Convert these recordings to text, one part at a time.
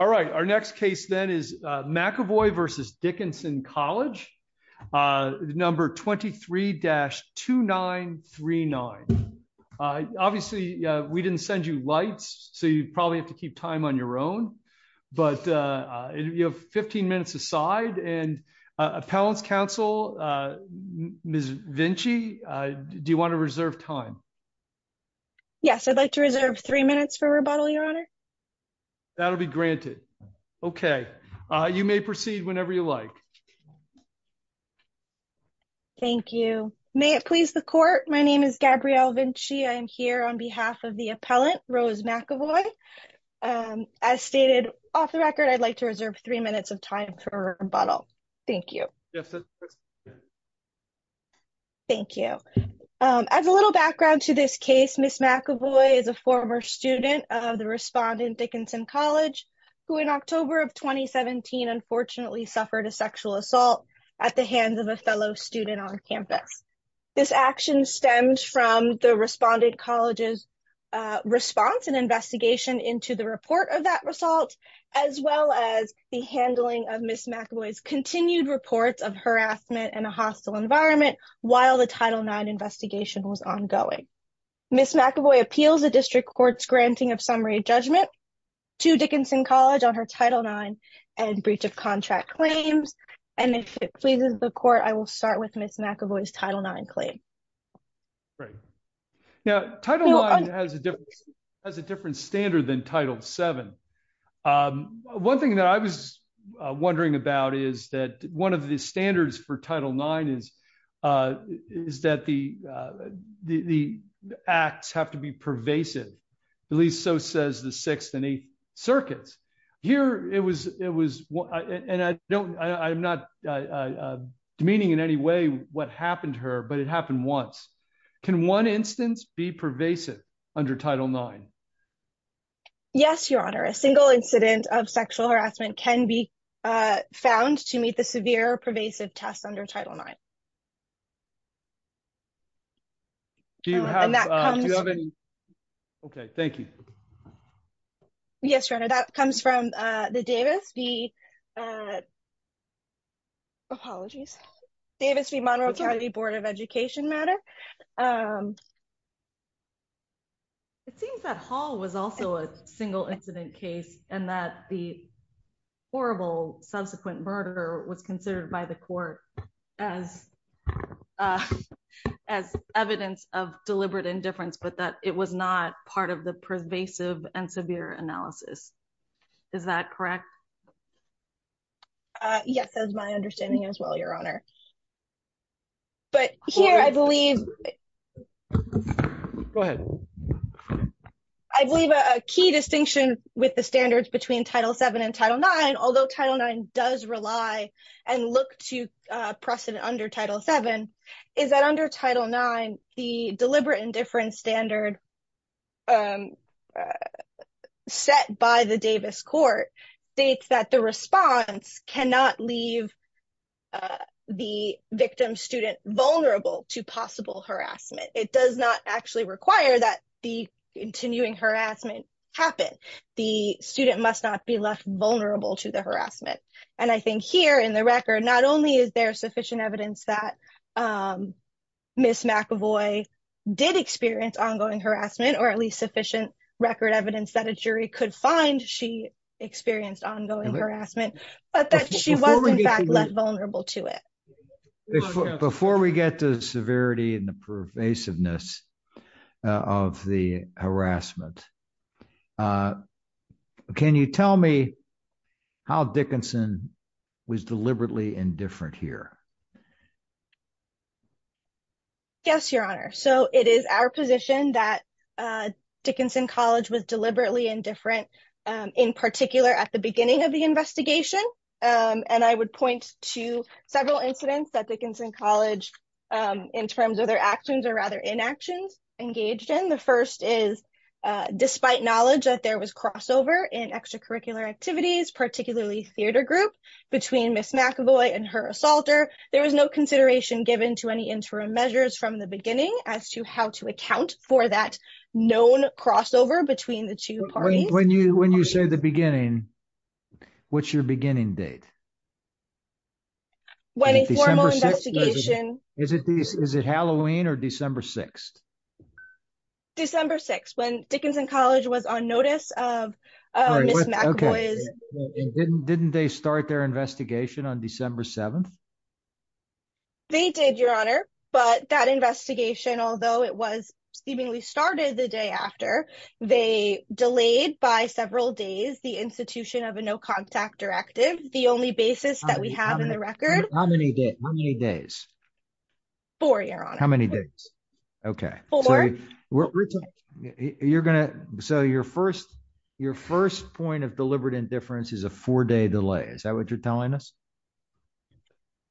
All right, our next case then is McAvoy v. Dickinson College, number 23-2939. Obviously, we didn't send you lights, so you probably have to keep time on your own, but you have 15 minutes aside, and Appellant's Counsel, Ms. Vinci, do you want to reserve time? Yes, I'd like to reserve three minutes for rebuttal, Your Honor. That'll be granted. Okay, you may proceed whenever you like. Thank you. May it please the Court, my name is Gabrielle Vinci. I am here on behalf of the Appellant, Rose McAvoy. As stated off the record, I'd like to reserve three minutes of time for rebuttal. Thank you. Yes, that's good. Thank you. As a little background to this case, Ms. McAvoy is a former student of the Dickinson College, who in October of 2017, unfortunately, suffered a sexual assault at the hands of a fellow student on campus. This action stemmed from the Respondent College's response and investigation into the report of that result, as well as the handling of Ms. McAvoy's continued reports of harassment and a hostile environment while the Title IX investigation was ongoing. Ms. McAvoy appeals the District Court's granting of summary judgment to Dickinson College on her Title IX and breach of contract claims, and if it pleases the Court, I will start with Ms. McAvoy's Title IX claim. Great. Now, Title IX has a different standard than Title VII. One thing that I was wondering about is that one of the standards for the acts have to be pervasive. At least so says the Sixth and Eighth Circuits. Here, it was, and I don't, I'm not demeaning in any way what happened to her, but it happened once. Can one instance be pervasive under Title IX? Yes, Your Honor. A single incident of sexual harassment can be found to meet the severe pervasive test under Title IX. Do you have, do you have any, okay, thank you. Yes, Your Honor, that comes from the Davis v, apologies, Davis v. Monroe County Board of Education matter. It seems that Hall was also a single incident case and that the horrible subsequent murder was considered by the Court as evidence of deliberate indifference, but that it was not part of the pervasive and severe analysis. Is that correct? Yes, that is my understanding as well, Your Honor. But here, I believe, go ahead, I believe a key distinction with the standards between Title VII and Title IX, although Title IX does rely and look to precedent under Title VII, is that under Title IX, the deliberate indifference standard set by the Davis Court states that the response cannot leave the victim student vulnerable to possible harassment. It does not actually require that the continuing harassment happen. The student must not be left vulnerable to the harassment. And I think here in the record, not only is there sufficient evidence that Ms. McAvoy did experience ongoing harassment, or at least sufficient record evidence that a jury could find she experienced ongoing harassment, but that she was in fact left vulnerable to it. Before we get to the severity and the pervasiveness of the harassment, can you tell me how Dickinson was deliberately indifferent here? Yes, Your Honor. So, it is our position that Dickinson College was deliberately indifferent, in particular, at the beginning of the investigation. And I would point to several incidents that Dickinson College, in terms of their actions, or rather inactions, engaged in. The first is, despite knowledge that there was crossover in extracurricular activities, particularly theater group, between Ms. McAvoy and her assaulter, there was no consideration given to any interim measures from the beginning as to how to account for that known crossover between the two parties. When you say the beginning, what's your beginning date? December 6th. When a formal investigation... Is it Halloween or December 6th? December 6th, when Dickinson College was on notice of Ms. McAvoy's... Didn't they start their investigation on December 7th? They did, Your Honor, but that investigation, although it was seemingly started the day after, they delayed by several days the institution of a no-contact directive, the only basis that we have in the record. How many days? Four, Your Honor. How many days? Okay. So, your first point of deliberate indifference is a four-day delay. Is that what you're telling us?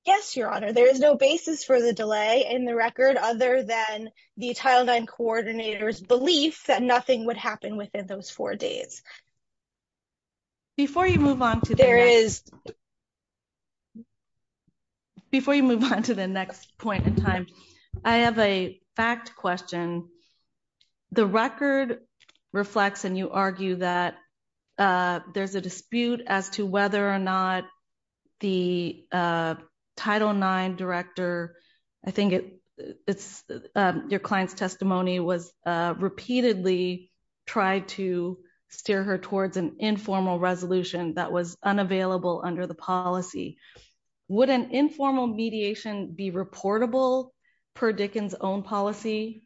Yes, Your Honor. There is no basis for the delay in the record, other than the Title IX coordinator's belief that nothing would happen within those four days. Before you move on to the next point in time, I have a fact question. The record reflects, and you argue that there's a dispute as to whether or not the client's testimony was repeatedly tried to steer her towards an informal resolution that was unavailable under the policy. Would an informal mediation be reportable per Dickinson's own policy?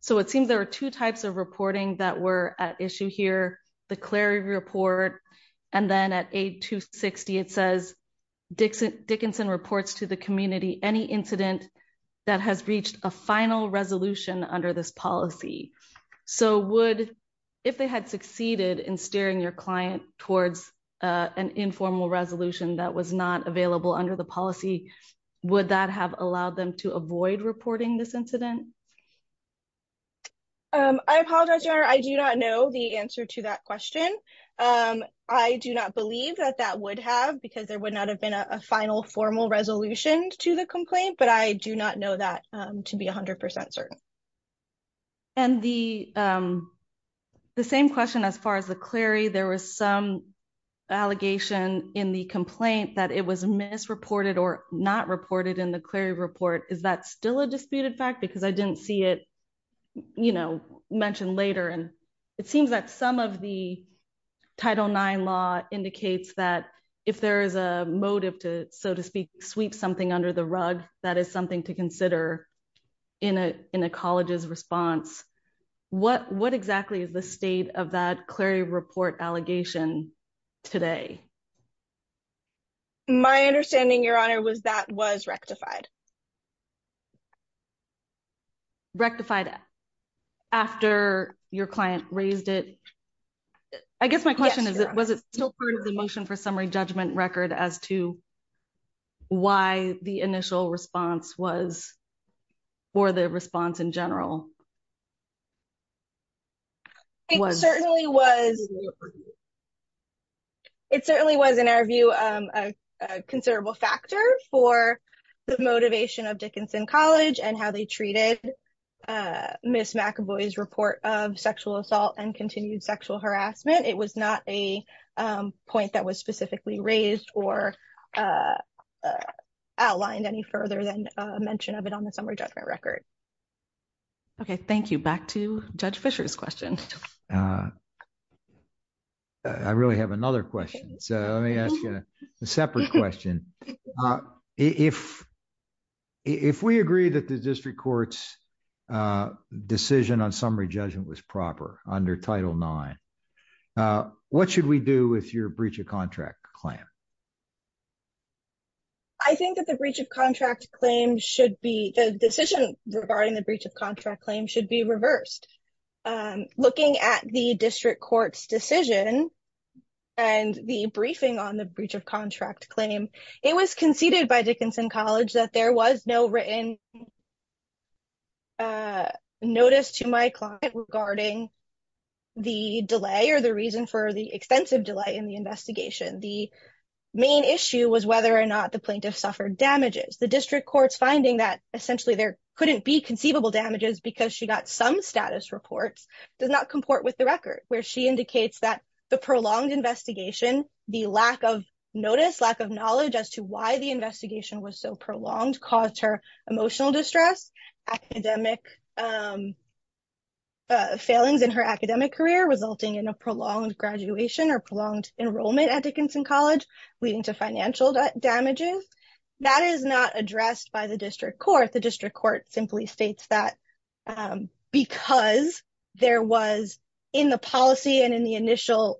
So, it seems there are two types of reporting that were at issue here, the Clary report, and then at 8-260, it says, Dickinson reports to the community any incident that has reached a final resolution under this policy. So, if they had succeeded in steering your client towards an informal resolution that was not available under the policy, would that have allowed them to avoid reporting this incident? I apologize, Your Honor. I do not know the answer to that question. I do not believe that that would have, because there would not have been a final formal resolution to the complaint, but I do not know that to be 100% certain. And the same question as far as the Clary, there was some allegation in the complaint that it was misreported or not reported in the Clary report. Is that still a disputed fact? Because I didn't see it, you know, mentioned later, and it seems that some of the Title IX law indicates that if there is a motive to, so to speak, sweep something under the rug, that is something to consider in a college's response. What exactly is the state of that Clary report allegation today? My understanding, Your Honor, was that was rectified. Rectified after your client raised it? I guess my question is, was it still part of the motion for summary judgment record as to why the initial response was for the response in general? It certainly was. It certainly was, in our view, a considerable factor for the motive of Dickinson College and how they treated Ms. McAvoy's report of sexual assault and continued sexual harassment. It was not a point that was specifically raised or outlined any further than a mention of it on the summary judgment record. Okay, thank you. Back to Judge Fischer's question. I really have another question, so let me ask you a separate question. If we agree that the district court's decision on summary judgment was proper under Title IX, what should we do with your breach of contract claim? I think that the decision regarding the breach of contract claim should be reversed. Looking at the district court's decision and the briefing on the breach of contract claim, it was conceded by Dickinson College that there was no written notice to my client regarding the delay or the reason for the extensive delay in the investigation. The main issue was whether or not the plaintiff suffered damages. The district court's finding that essentially there couldn't be conceivable damages because she got some status reports does not comport with the record, where she indicates that the prolonged investigation, the lack of notice, lack of knowledge as to why the investigation was so prolonged, caused her emotional distress, academic failings in her academic career resulting in a prolonged graduation or prolonged enrollment at Dickinson College, leading to financial damages. That is not addressed by the district court. The district court simply states that because there was in the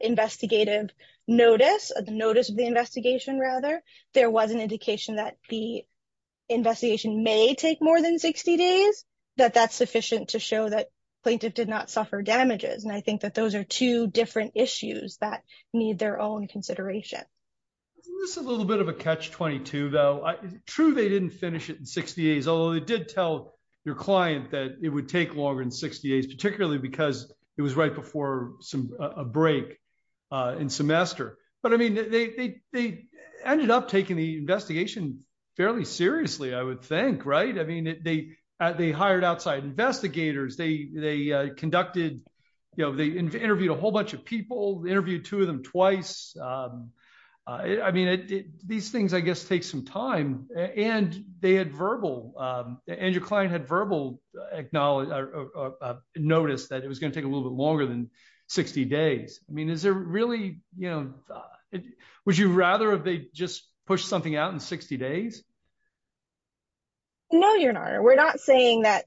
investigative notice, the notice of the investigation rather, there was an indication that the investigation may take more than 60 days, that that's sufficient to show that plaintiff did not suffer damages. I think that those are two different issues that need their own consideration. Isn't this a little bit of a catch-22 though? True, they didn't finish it in 60 days, although they did tell your client that it would take longer than 60 days, particularly because it was right before a break in semester. They ended up taking the investigation fairly seriously, I would think. They hired outside investigators. They interviewed a whole bunch of people, interviewed two of them twice. I mean, these things, I guess, take some time, and they had verbal, and your client had verbal notice that it was going to take a little bit longer than 60 days. I mean, is there really, you know, would you rather if they just pushed something out in 60 days? No, Your Honor, we're not saying that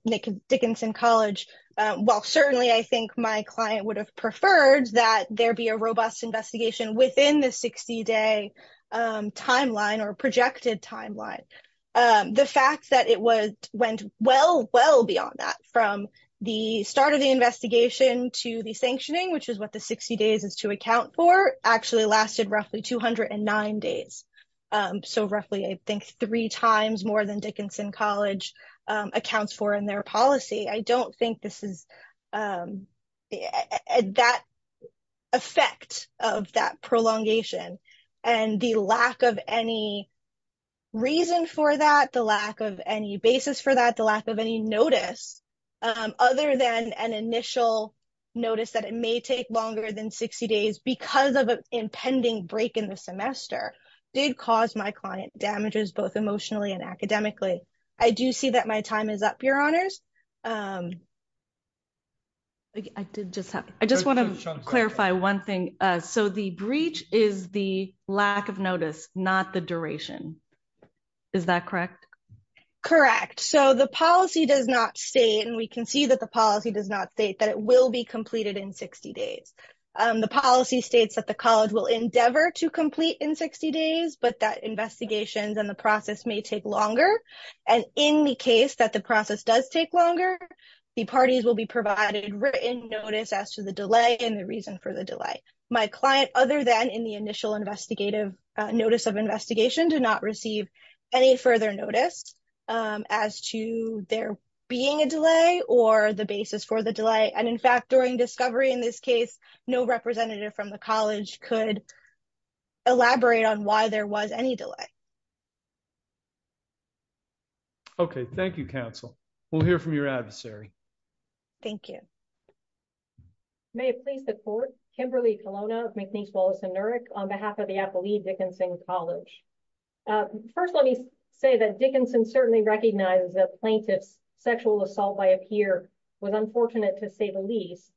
Dickinson College, well, certainly I think my client would have preferred that there be a robust investigation within the 60-day timeline or projected timeline. The fact that it went well, well beyond that, from the start of the investigation to the sanctioning, which is what the 60 days is to account for, actually lasted roughly 209 days, so roughly, I think, three times more than Dickinson College accounts for in their policy. I don't think this is that effect of that prolongation, and the lack of any reason for that, the lack of any basis for that, the lack of any notice other than an initial notice that it may take longer than 60 days because of an impending break in the semester did cause my time is up, Your Honors. I did just have, I just want to clarify one thing. So the breach is the lack of notice, not the duration. Is that correct? Correct. So the policy does not state, and we can see that the policy does not state that it will be completed in 60 days. The policy states that the college will endeavor to complete in 60 days, but that investigations and the process may take longer, and in the case that the process does take longer, the parties will be provided written notice as to the delay and the reason for the delay. My client, other than in the initial investigative notice of investigation, did not receive any further notice as to there being a delay or the basis for the delay, and in fact, during discovery in this case, no representative from the college could elaborate on why there was any delay. Okay, thank you, counsel. We'll hear from your adversary. Thank you. May it please the court, Kimberly Colonna of McNeese Wallace and Nurick on behalf of the Appalachian Dickinson College. First, let me say that Dickinson certainly recognizes that plaintiff's sexual assault by a peer was unfortunate to say the least,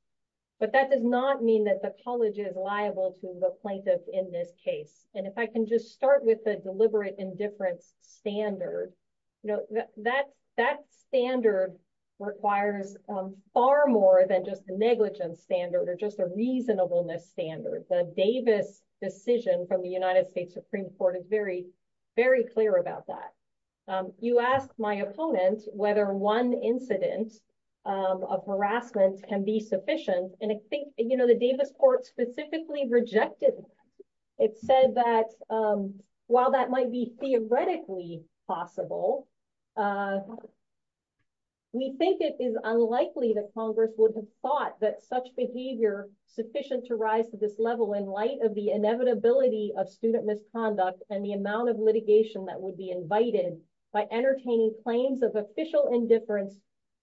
but that does not mean that the college is liable to the plaintiff in this case, and if I can just start with the deliberate indifference standard, you know, that standard requires far more than just a negligence standard or just a reasonableness standard. The Davis decision from the United States Supreme Court is very, very clear about that. You asked my opponent whether one incident of harassment can be rejected. It said that while that might be theoretically possible, we think it is unlikely that Congress would have thought that such behavior sufficient to rise to this level in light of the inevitability of student misconduct and the amount of litigation that would be invited by entertaining claims of official indifference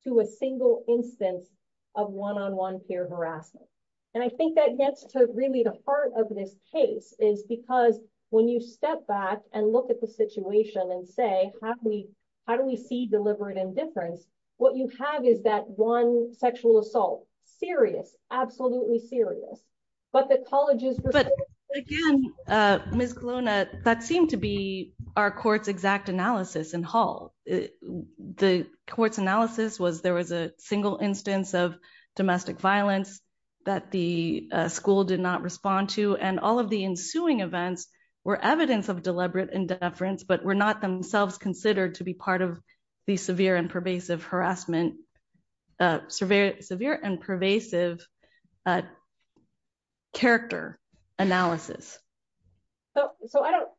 to a single instance of one-on-one peer harassment, and I think that gets to really the heart of this case is because when you step back and look at the situation and say, how do we see deliberate indifference, what you have is that one sexual assault, serious, absolutely serious, but the college is- Again, Ms. Colonna, that seemed to be our court's exact analysis in Hall. The court's analysis was there was a single instance of domestic violence that the school did not respond to and all of the ensuing events were evidence of deliberate indifference but were not themselves considered to be part of the severe and pervasive harassment, severe and pervasive character analysis. So I don't,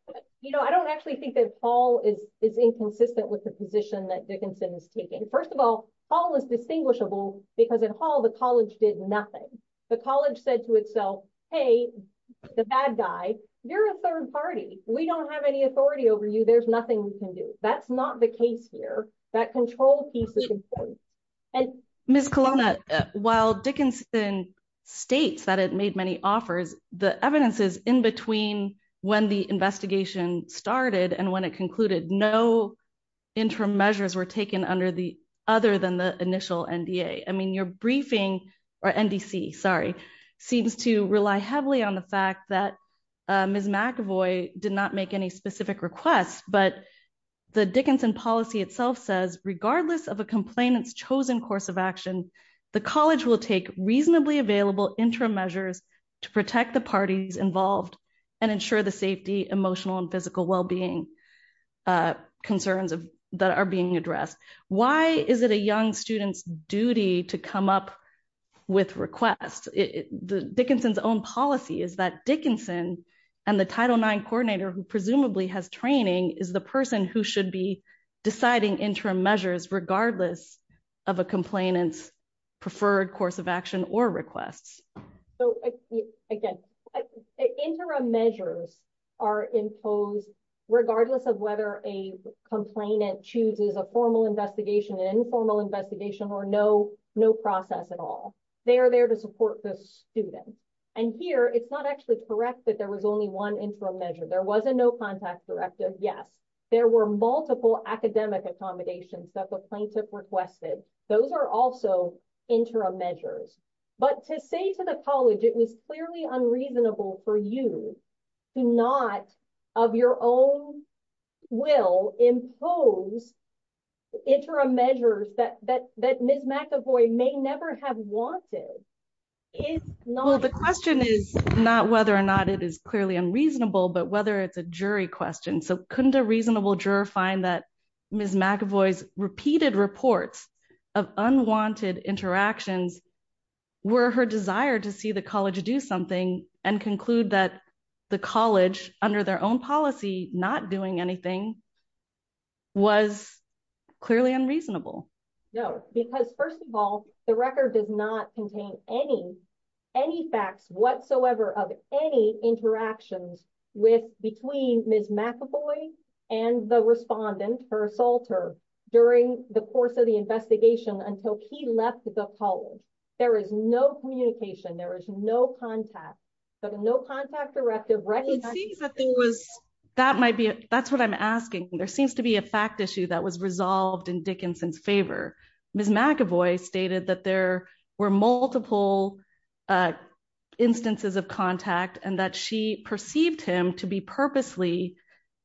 you know, I don't actually think that Hall is inconsistent with the position that Dickinson is taking. First of all, Hall is distinguishable because in Hall, the college did nothing. The college said to itself, hey, the bad guy, you're a third party. We don't have any authority over you. There's nothing we can do. That's not the case here. That control piece is important. Ms. Colonna, while Dickinson states that it made many offers, the evidence is in between when the measures were taken under the, other than the initial NDA. I mean, your briefing, or NDC, sorry, seems to rely heavily on the fact that Ms. McAvoy did not make any specific requests, but the Dickinson policy itself says, regardless of a complainant's chosen course of action, the college will take reasonably available interim measures to protect the parties involved and ensure the safety, emotional and addressed. Why is it a young student's duty to come up with requests? Dickinson's own policy is that Dickinson and the Title IX coordinator, who presumably has training, is the person who should be deciding interim measures, regardless of a complainant's preferred course of action or requests. So again, interim measures are imposed regardless of whether a complainant chooses a formal investigation, an informal investigation, or no process at all. They are there to support the student. And here, it's not actually correct that there was only one interim measure. There was a no-contact directive, yes. There were multiple academic accommodations that the plaintiff requested. Those are also interim measures. But to say to the college it was clearly unreasonable for you to not, of your own will, impose interim measures that Ms. McAvoy may never have wanted, is not... Well, the question is not whether or not it is clearly unreasonable, but whether it's a jury question. So couldn't a reasonable juror find that Ms. McAvoy's repeated reports of unwanted interactions were her desire to see the college do something and conclude that the college, under their own policy, not doing anything, was clearly unreasonable? No, because first of all, the record does not contain any facts whatsoever of any interactions between Ms. McAvoy and the respondent, her assaulter, during the course of the investigation until he left the college. There is no communication. There is no contact. So the no-contact directive recognizes that there was... That might be it. That's what I'm asking. There seems to be a fact issue that was resolved in that there were multiple instances of contact and that she perceived him to be purposely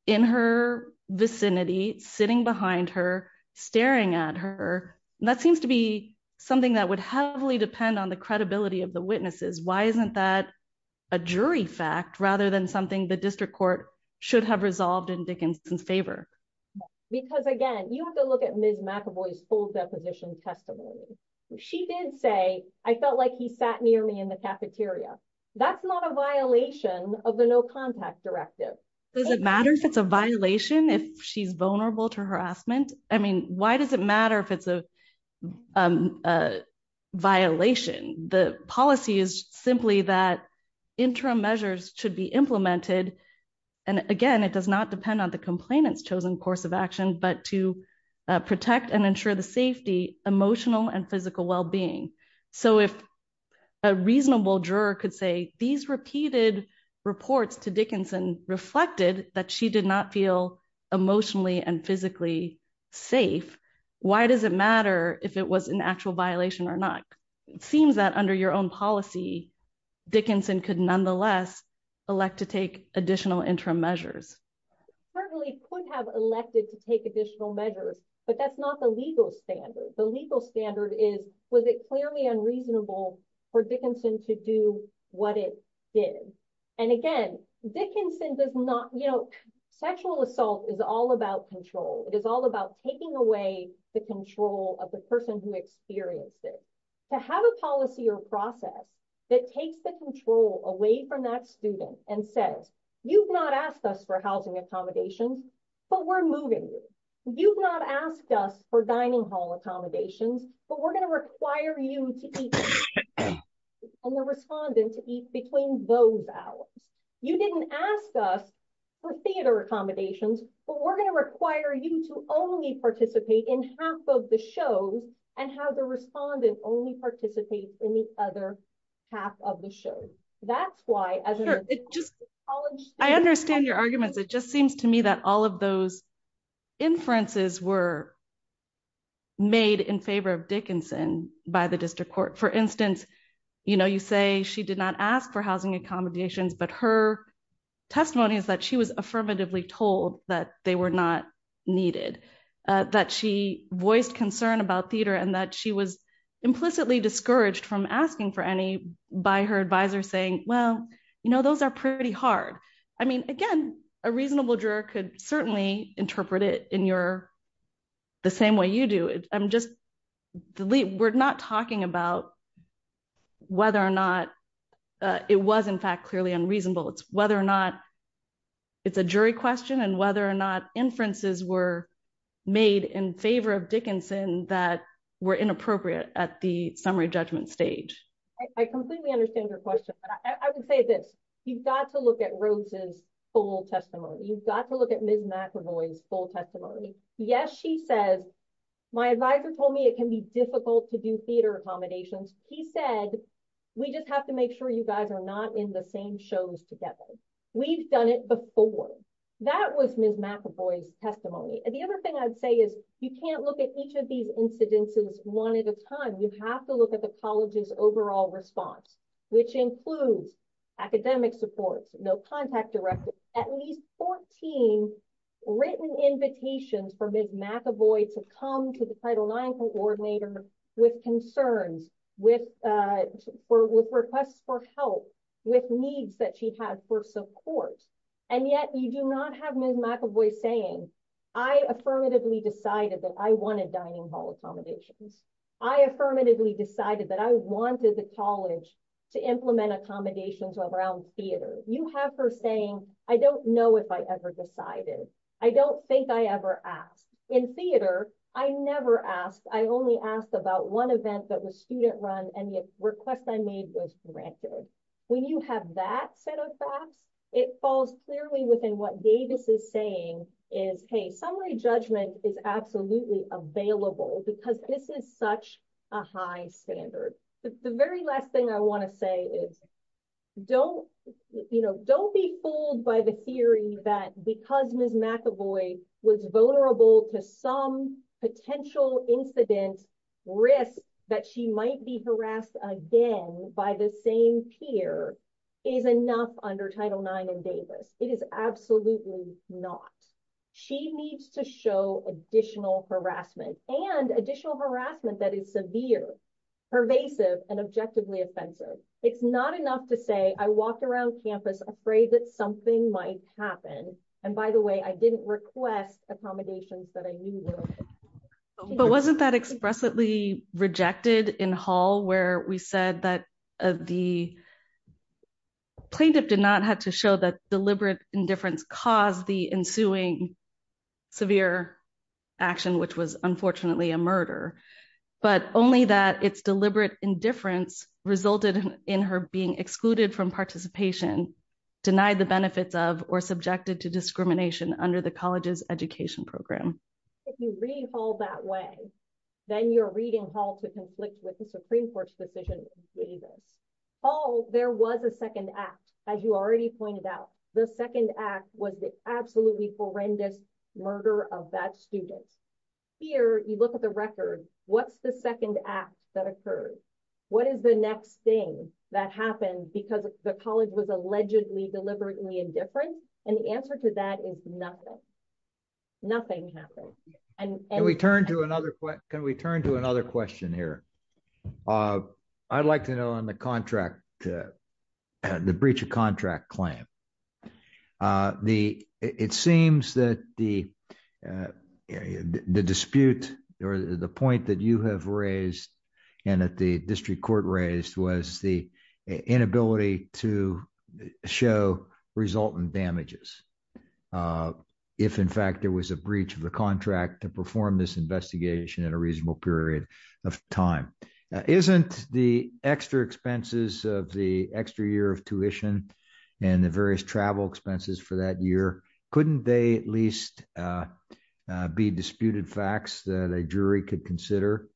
in her vicinity, sitting behind her, staring at her. That seems to be something that would heavily depend on the credibility of the witnesses. Why isn't that a jury fact rather than something the district court should have resolved in Dickinson's favor? Because again, you have to look at Ms. McAvoy's testimony. She did say, I felt like he sat near me in the cafeteria. That's not a violation of the no-contact directive. Does it matter if it's a violation if she's vulnerable to harassment? I mean, why does it matter if it's a violation? The policy is simply that interim measures should be implemented. And again, it does not depend on the complainant's course of action, but to protect and ensure the safety, emotional and physical wellbeing. So if a reasonable juror could say these repeated reports to Dickinson reflected that she did not feel emotionally and physically safe, why does it matter if it was an actual violation or not? It seems that under your own policy, Dickinson could nonetheless elect to take additional interim measures. Certainly could have elected to take additional measures, but that's not the legal standard. The legal standard is, was it clearly unreasonable for Dickinson to do what it did? And again, Dickinson does not... Sexual assault is all about control. It is all about taking away the control of the person who experienced it. To have a policy or process that takes the control away from that student and says, you've not asked us for housing accommodations, but we're moving you. You've not asked us for dining hall accommodations, but we're going to require you to eat and the respondent to eat between those hours. You didn't ask us for theater accommodations, but we're going to require you to only participate in half of the shows and have the respondent only participate in the other half of the shows. That's why... I understand your arguments. It just seems to me that all of those inferences were made in favor of Dickinson by the district court. For instance, you say she did not ask for housing accommodations, but her testimony is that she was affirmatively told that they were not needed, that she voiced concern about theater and that she was implicitly discouraged from asking for any by her advisor saying, well, you know, those are pretty hard. I mean, again, a reasonable juror could certainly interpret it in the same way you do it. I'm just... We're not talking about whether or not it was in fact clearly unreasonable. It's whether or not it's a jury question and whether or not inferences were made in favor of Dickinson that were inappropriate at the summary judgment stage. I completely understand your question, but I would say this. You've got to look at Rose's full testimony. You've got to look at Ms. McEvoy's full testimony. Yes, she says, my advisor told me it can be difficult to do theater accommodations. He said, we just have to make sure you guys are not in the same shows together. We've done it before. That was Ms. McEvoy's testimony. The other thing I'd say is you can't look at each of these incidences one at a time. You have to look at the college's overall response, which includes academic supports, no contact directly. At least 14 written invitations for Ms. McEvoy to come to the Title IX coordinator with concerns, with requests for help, with needs that she had for support. And yet you do not have Ms. McEvoy saying, I affirmatively decided that I wanted dining hall accommodations. I affirmatively decided that I wanted the college to implement accommodations around theater. You have her saying, I don't know if I ever decided. I don't think I ever asked. In theater, I never asked. I only asked about one event that was student run and the request I made was granted. When you have that set of facts, it falls clearly within what Davis is saying is, hey, summary judgment is absolutely available because this is such a high standard. The very last thing I want to say is don't be fooled by the theory that because Ms. McEvoy was vulnerable to some potential incident risk that she might be harassed again by the same peer is enough under Title IX and Davis. It is absolutely not. She needs to show additional harassment and additional harassment that is severe, pervasive, and objectively offensive. It's not enough to say I walked around campus afraid that something might happen. By the way, I didn't request accommodations that I knew were. But wasn't that expressly rejected in hall where we said that the plaintiff did not have to show that deliberate indifference caused the ensuing severe action, which was unfortunately a murder, but only that it's deliberate indifference resulted in her being excluded from participation, denied the benefits of, or subjected to discrimination under the college's education program. If you read hall that way, then you're reading hall to conflict with the Supreme Court's decision in Davis. Hall, there was a second act. As you already pointed out, the second act was the absolutely horrendous murder of that student. Here, you look at the record, what's the second act that occurred? What is the next thing that happened because the college was allegedly deliberately indifferent? The answer to that is nothing. Nothing happened. Can we turn to another question here? I'd like to know on the breach of contract claim. It seems that the dispute or the point that you have raised and that the district court raised was the inability to show resultant damages. If in fact there was a breach of the contract to perform this investigation at a reasonable period of time. Isn't the extra expenses of the extra year of travel expenses for that year, couldn't they at least be disputed facts that a jury could consider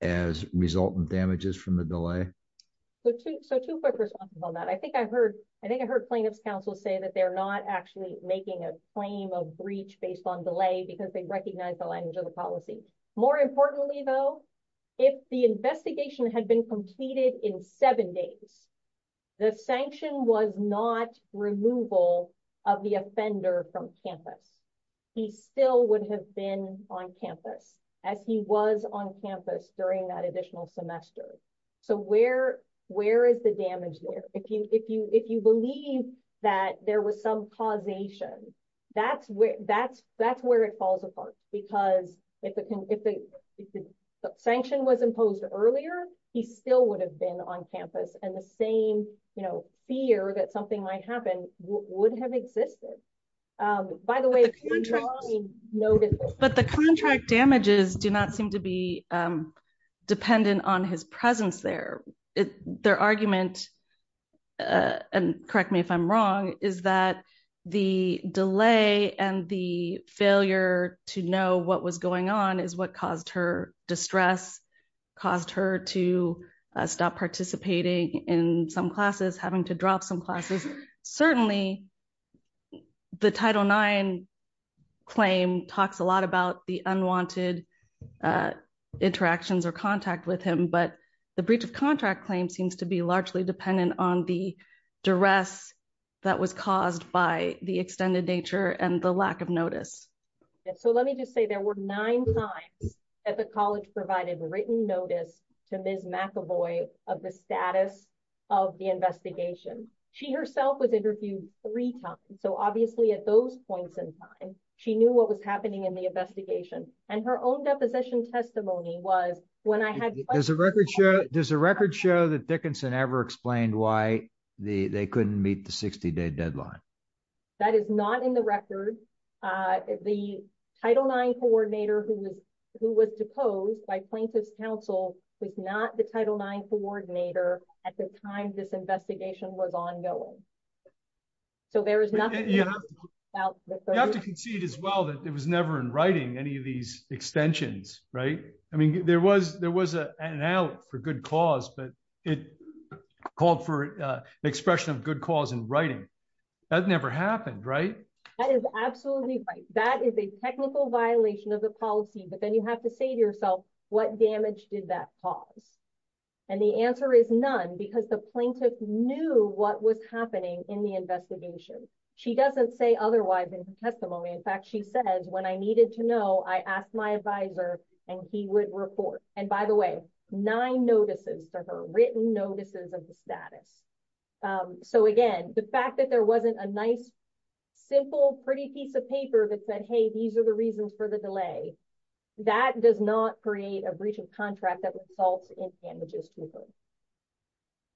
as resultant damages from the delay? Two quick responses on that. I think I heard plaintiffs counsel say that they're not actually making a claim of breach based on delay because they recognize the language of the policy. More importantly though, if the investigation had completed in seven days, the sanction was not removal of the offender from campus. He still would have been on campus as he was on campus during that additional semester. Where is the damage there? If you believe that there was some causation, that's where it falls apart. Because if the sanction was imposed earlier, he still would have been on campus and the same fear that something might happen would have existed. By the way, but the contract damages do not seem to be dependent on his presence there. Their argument and correct me if I'm wrong, is that the delay and the failure to know what was going on is what caused her distress, caused her to stop participating in some classes, having to drop some classes. Certainly the Title IX claim talks a lot about the unwanted interactions or contact with him, but the breach of contract claim seems to be largely dependent on the duress that was caused by the extended nature and the lack of notice. So let me just say there were nine times that the college provided written notice to Ms. McAvoy of the status of the investigation. She herself was interviewed three times. So obviously at those points in time, she knew what was happening in the investigation. And her own deposition testimony was when I had... Does the record show that Dickinson ever explained why they couldn't meet the 60-day deadline? That is not in the record. The Title IX coordinator who was deposed by plaintiff's counsel was not the Title IX coordinator at the time this investigation was ongoing. So there is nothing... You have to concede as well that it was never in writing any of these extensions, right? I mean, there was an out for good cause, but it called for expression of good cause in writing. That never happened, right? That is absolutely right. That is a technical violation of the policy, but then you have to say to yourself, what damage did that cause? And the answer is none because the plaintiff knew what was happening in the investigation. She doesn't say otherwise in her testimony. In fact, she says, when I needed to know, I asked my advisor and he would report. And by the way, nine notices to her, written notices of the status. So again, the fact that there wasn't a nice, simple, pretty piece of paper that said, hey, these are the reasons for the delay, that does not create a breach of contract that results in damages to her.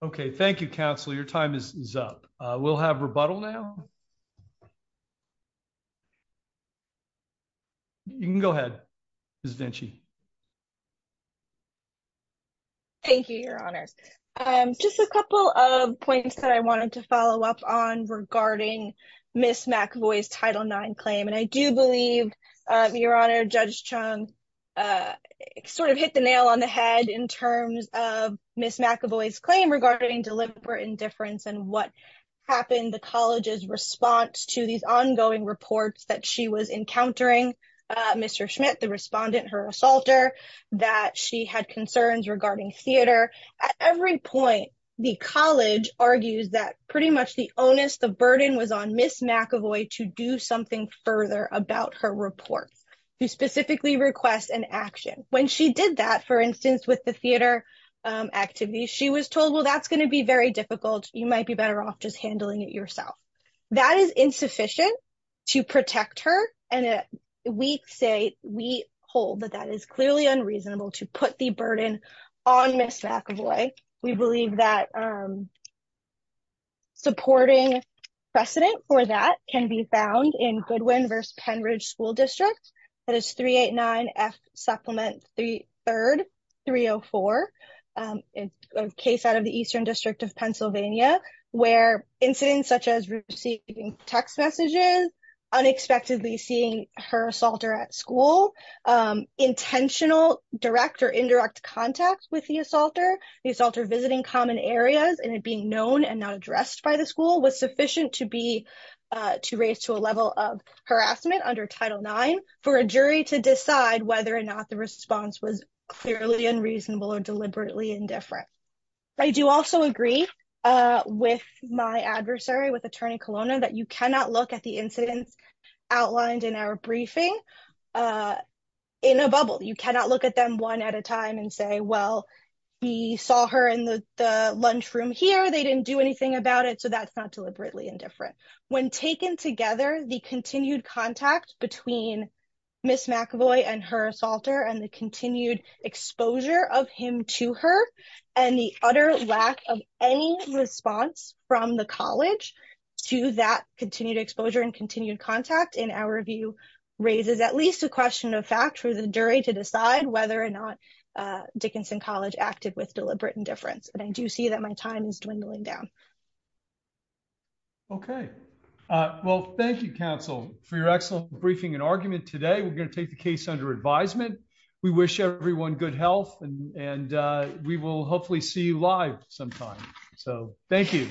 Okay. Thank you, counsel. Your time is up. We'll have rebuttal now. You can go ahead, Ms. Vinci. Thank you, your honors. Just a couple of points that I wanted to follow up on regarding Ms. McAvoy's Title IX claim. And I do believe, your honor, Judge Chung sort of hit the nail on the head in terms of Ms. McAvoy's claim regarding deliberate indifference and what happened, the college's response to these ongoing reports that she was encountering, Mr. Schmidt, the respondent, her assaulter, that she had concerns regarding theater. At every point, the college argues that pretty much the onus, the burden was on Ms. McAvoy to do something with the theater activities. She was told, well, that's going to be very difficult. You might be better off just handling it yourself. That is insufficient to protect her. And we say, we hold that that is clearly unreasonable to put the burden on Ms. McAvoy. We believe that supporting precedent for that can be found in Goodwin versus Penridge School District. That is 389F Supplement 3, 304. It's a case out of the Eastern District of Pennsylvania, where incidents such as receiving text messages, unexpectedly seeing her assaulter at school, intentional direct or indirect contact with the assaulter, the assaulter visiting common areas and it being known and not addressed by the school was sufficient to be, to raise to a level of Title IX for a jury to decide whether or not the response was clearly unreasonable or deliberately indifferent. I do also agree with my adversary, with Attorney Colonna, that you cannot look at the incidents outlined in our briefing in a bubble. You cannot look at them one at a time and say, well, we saw her in the lunchroom here. They didn't do anything about it. So that's not contact between Ms. McAvoy and her assaulter and the continued exposure of him to her and the utter lack of any response from the college to that continued exposure and continued contact in our review raises at least a question of fact for the jury to decide whether or not Dickinson College acted with deliberate indifference. And I do see that my time is dwindling down. Okay. Well, thank you, counsel, for your excellent briefing and argument today. We're going to take the case under advisement. We wish everyone good health and we will hopefully see you live sometime. So thank you.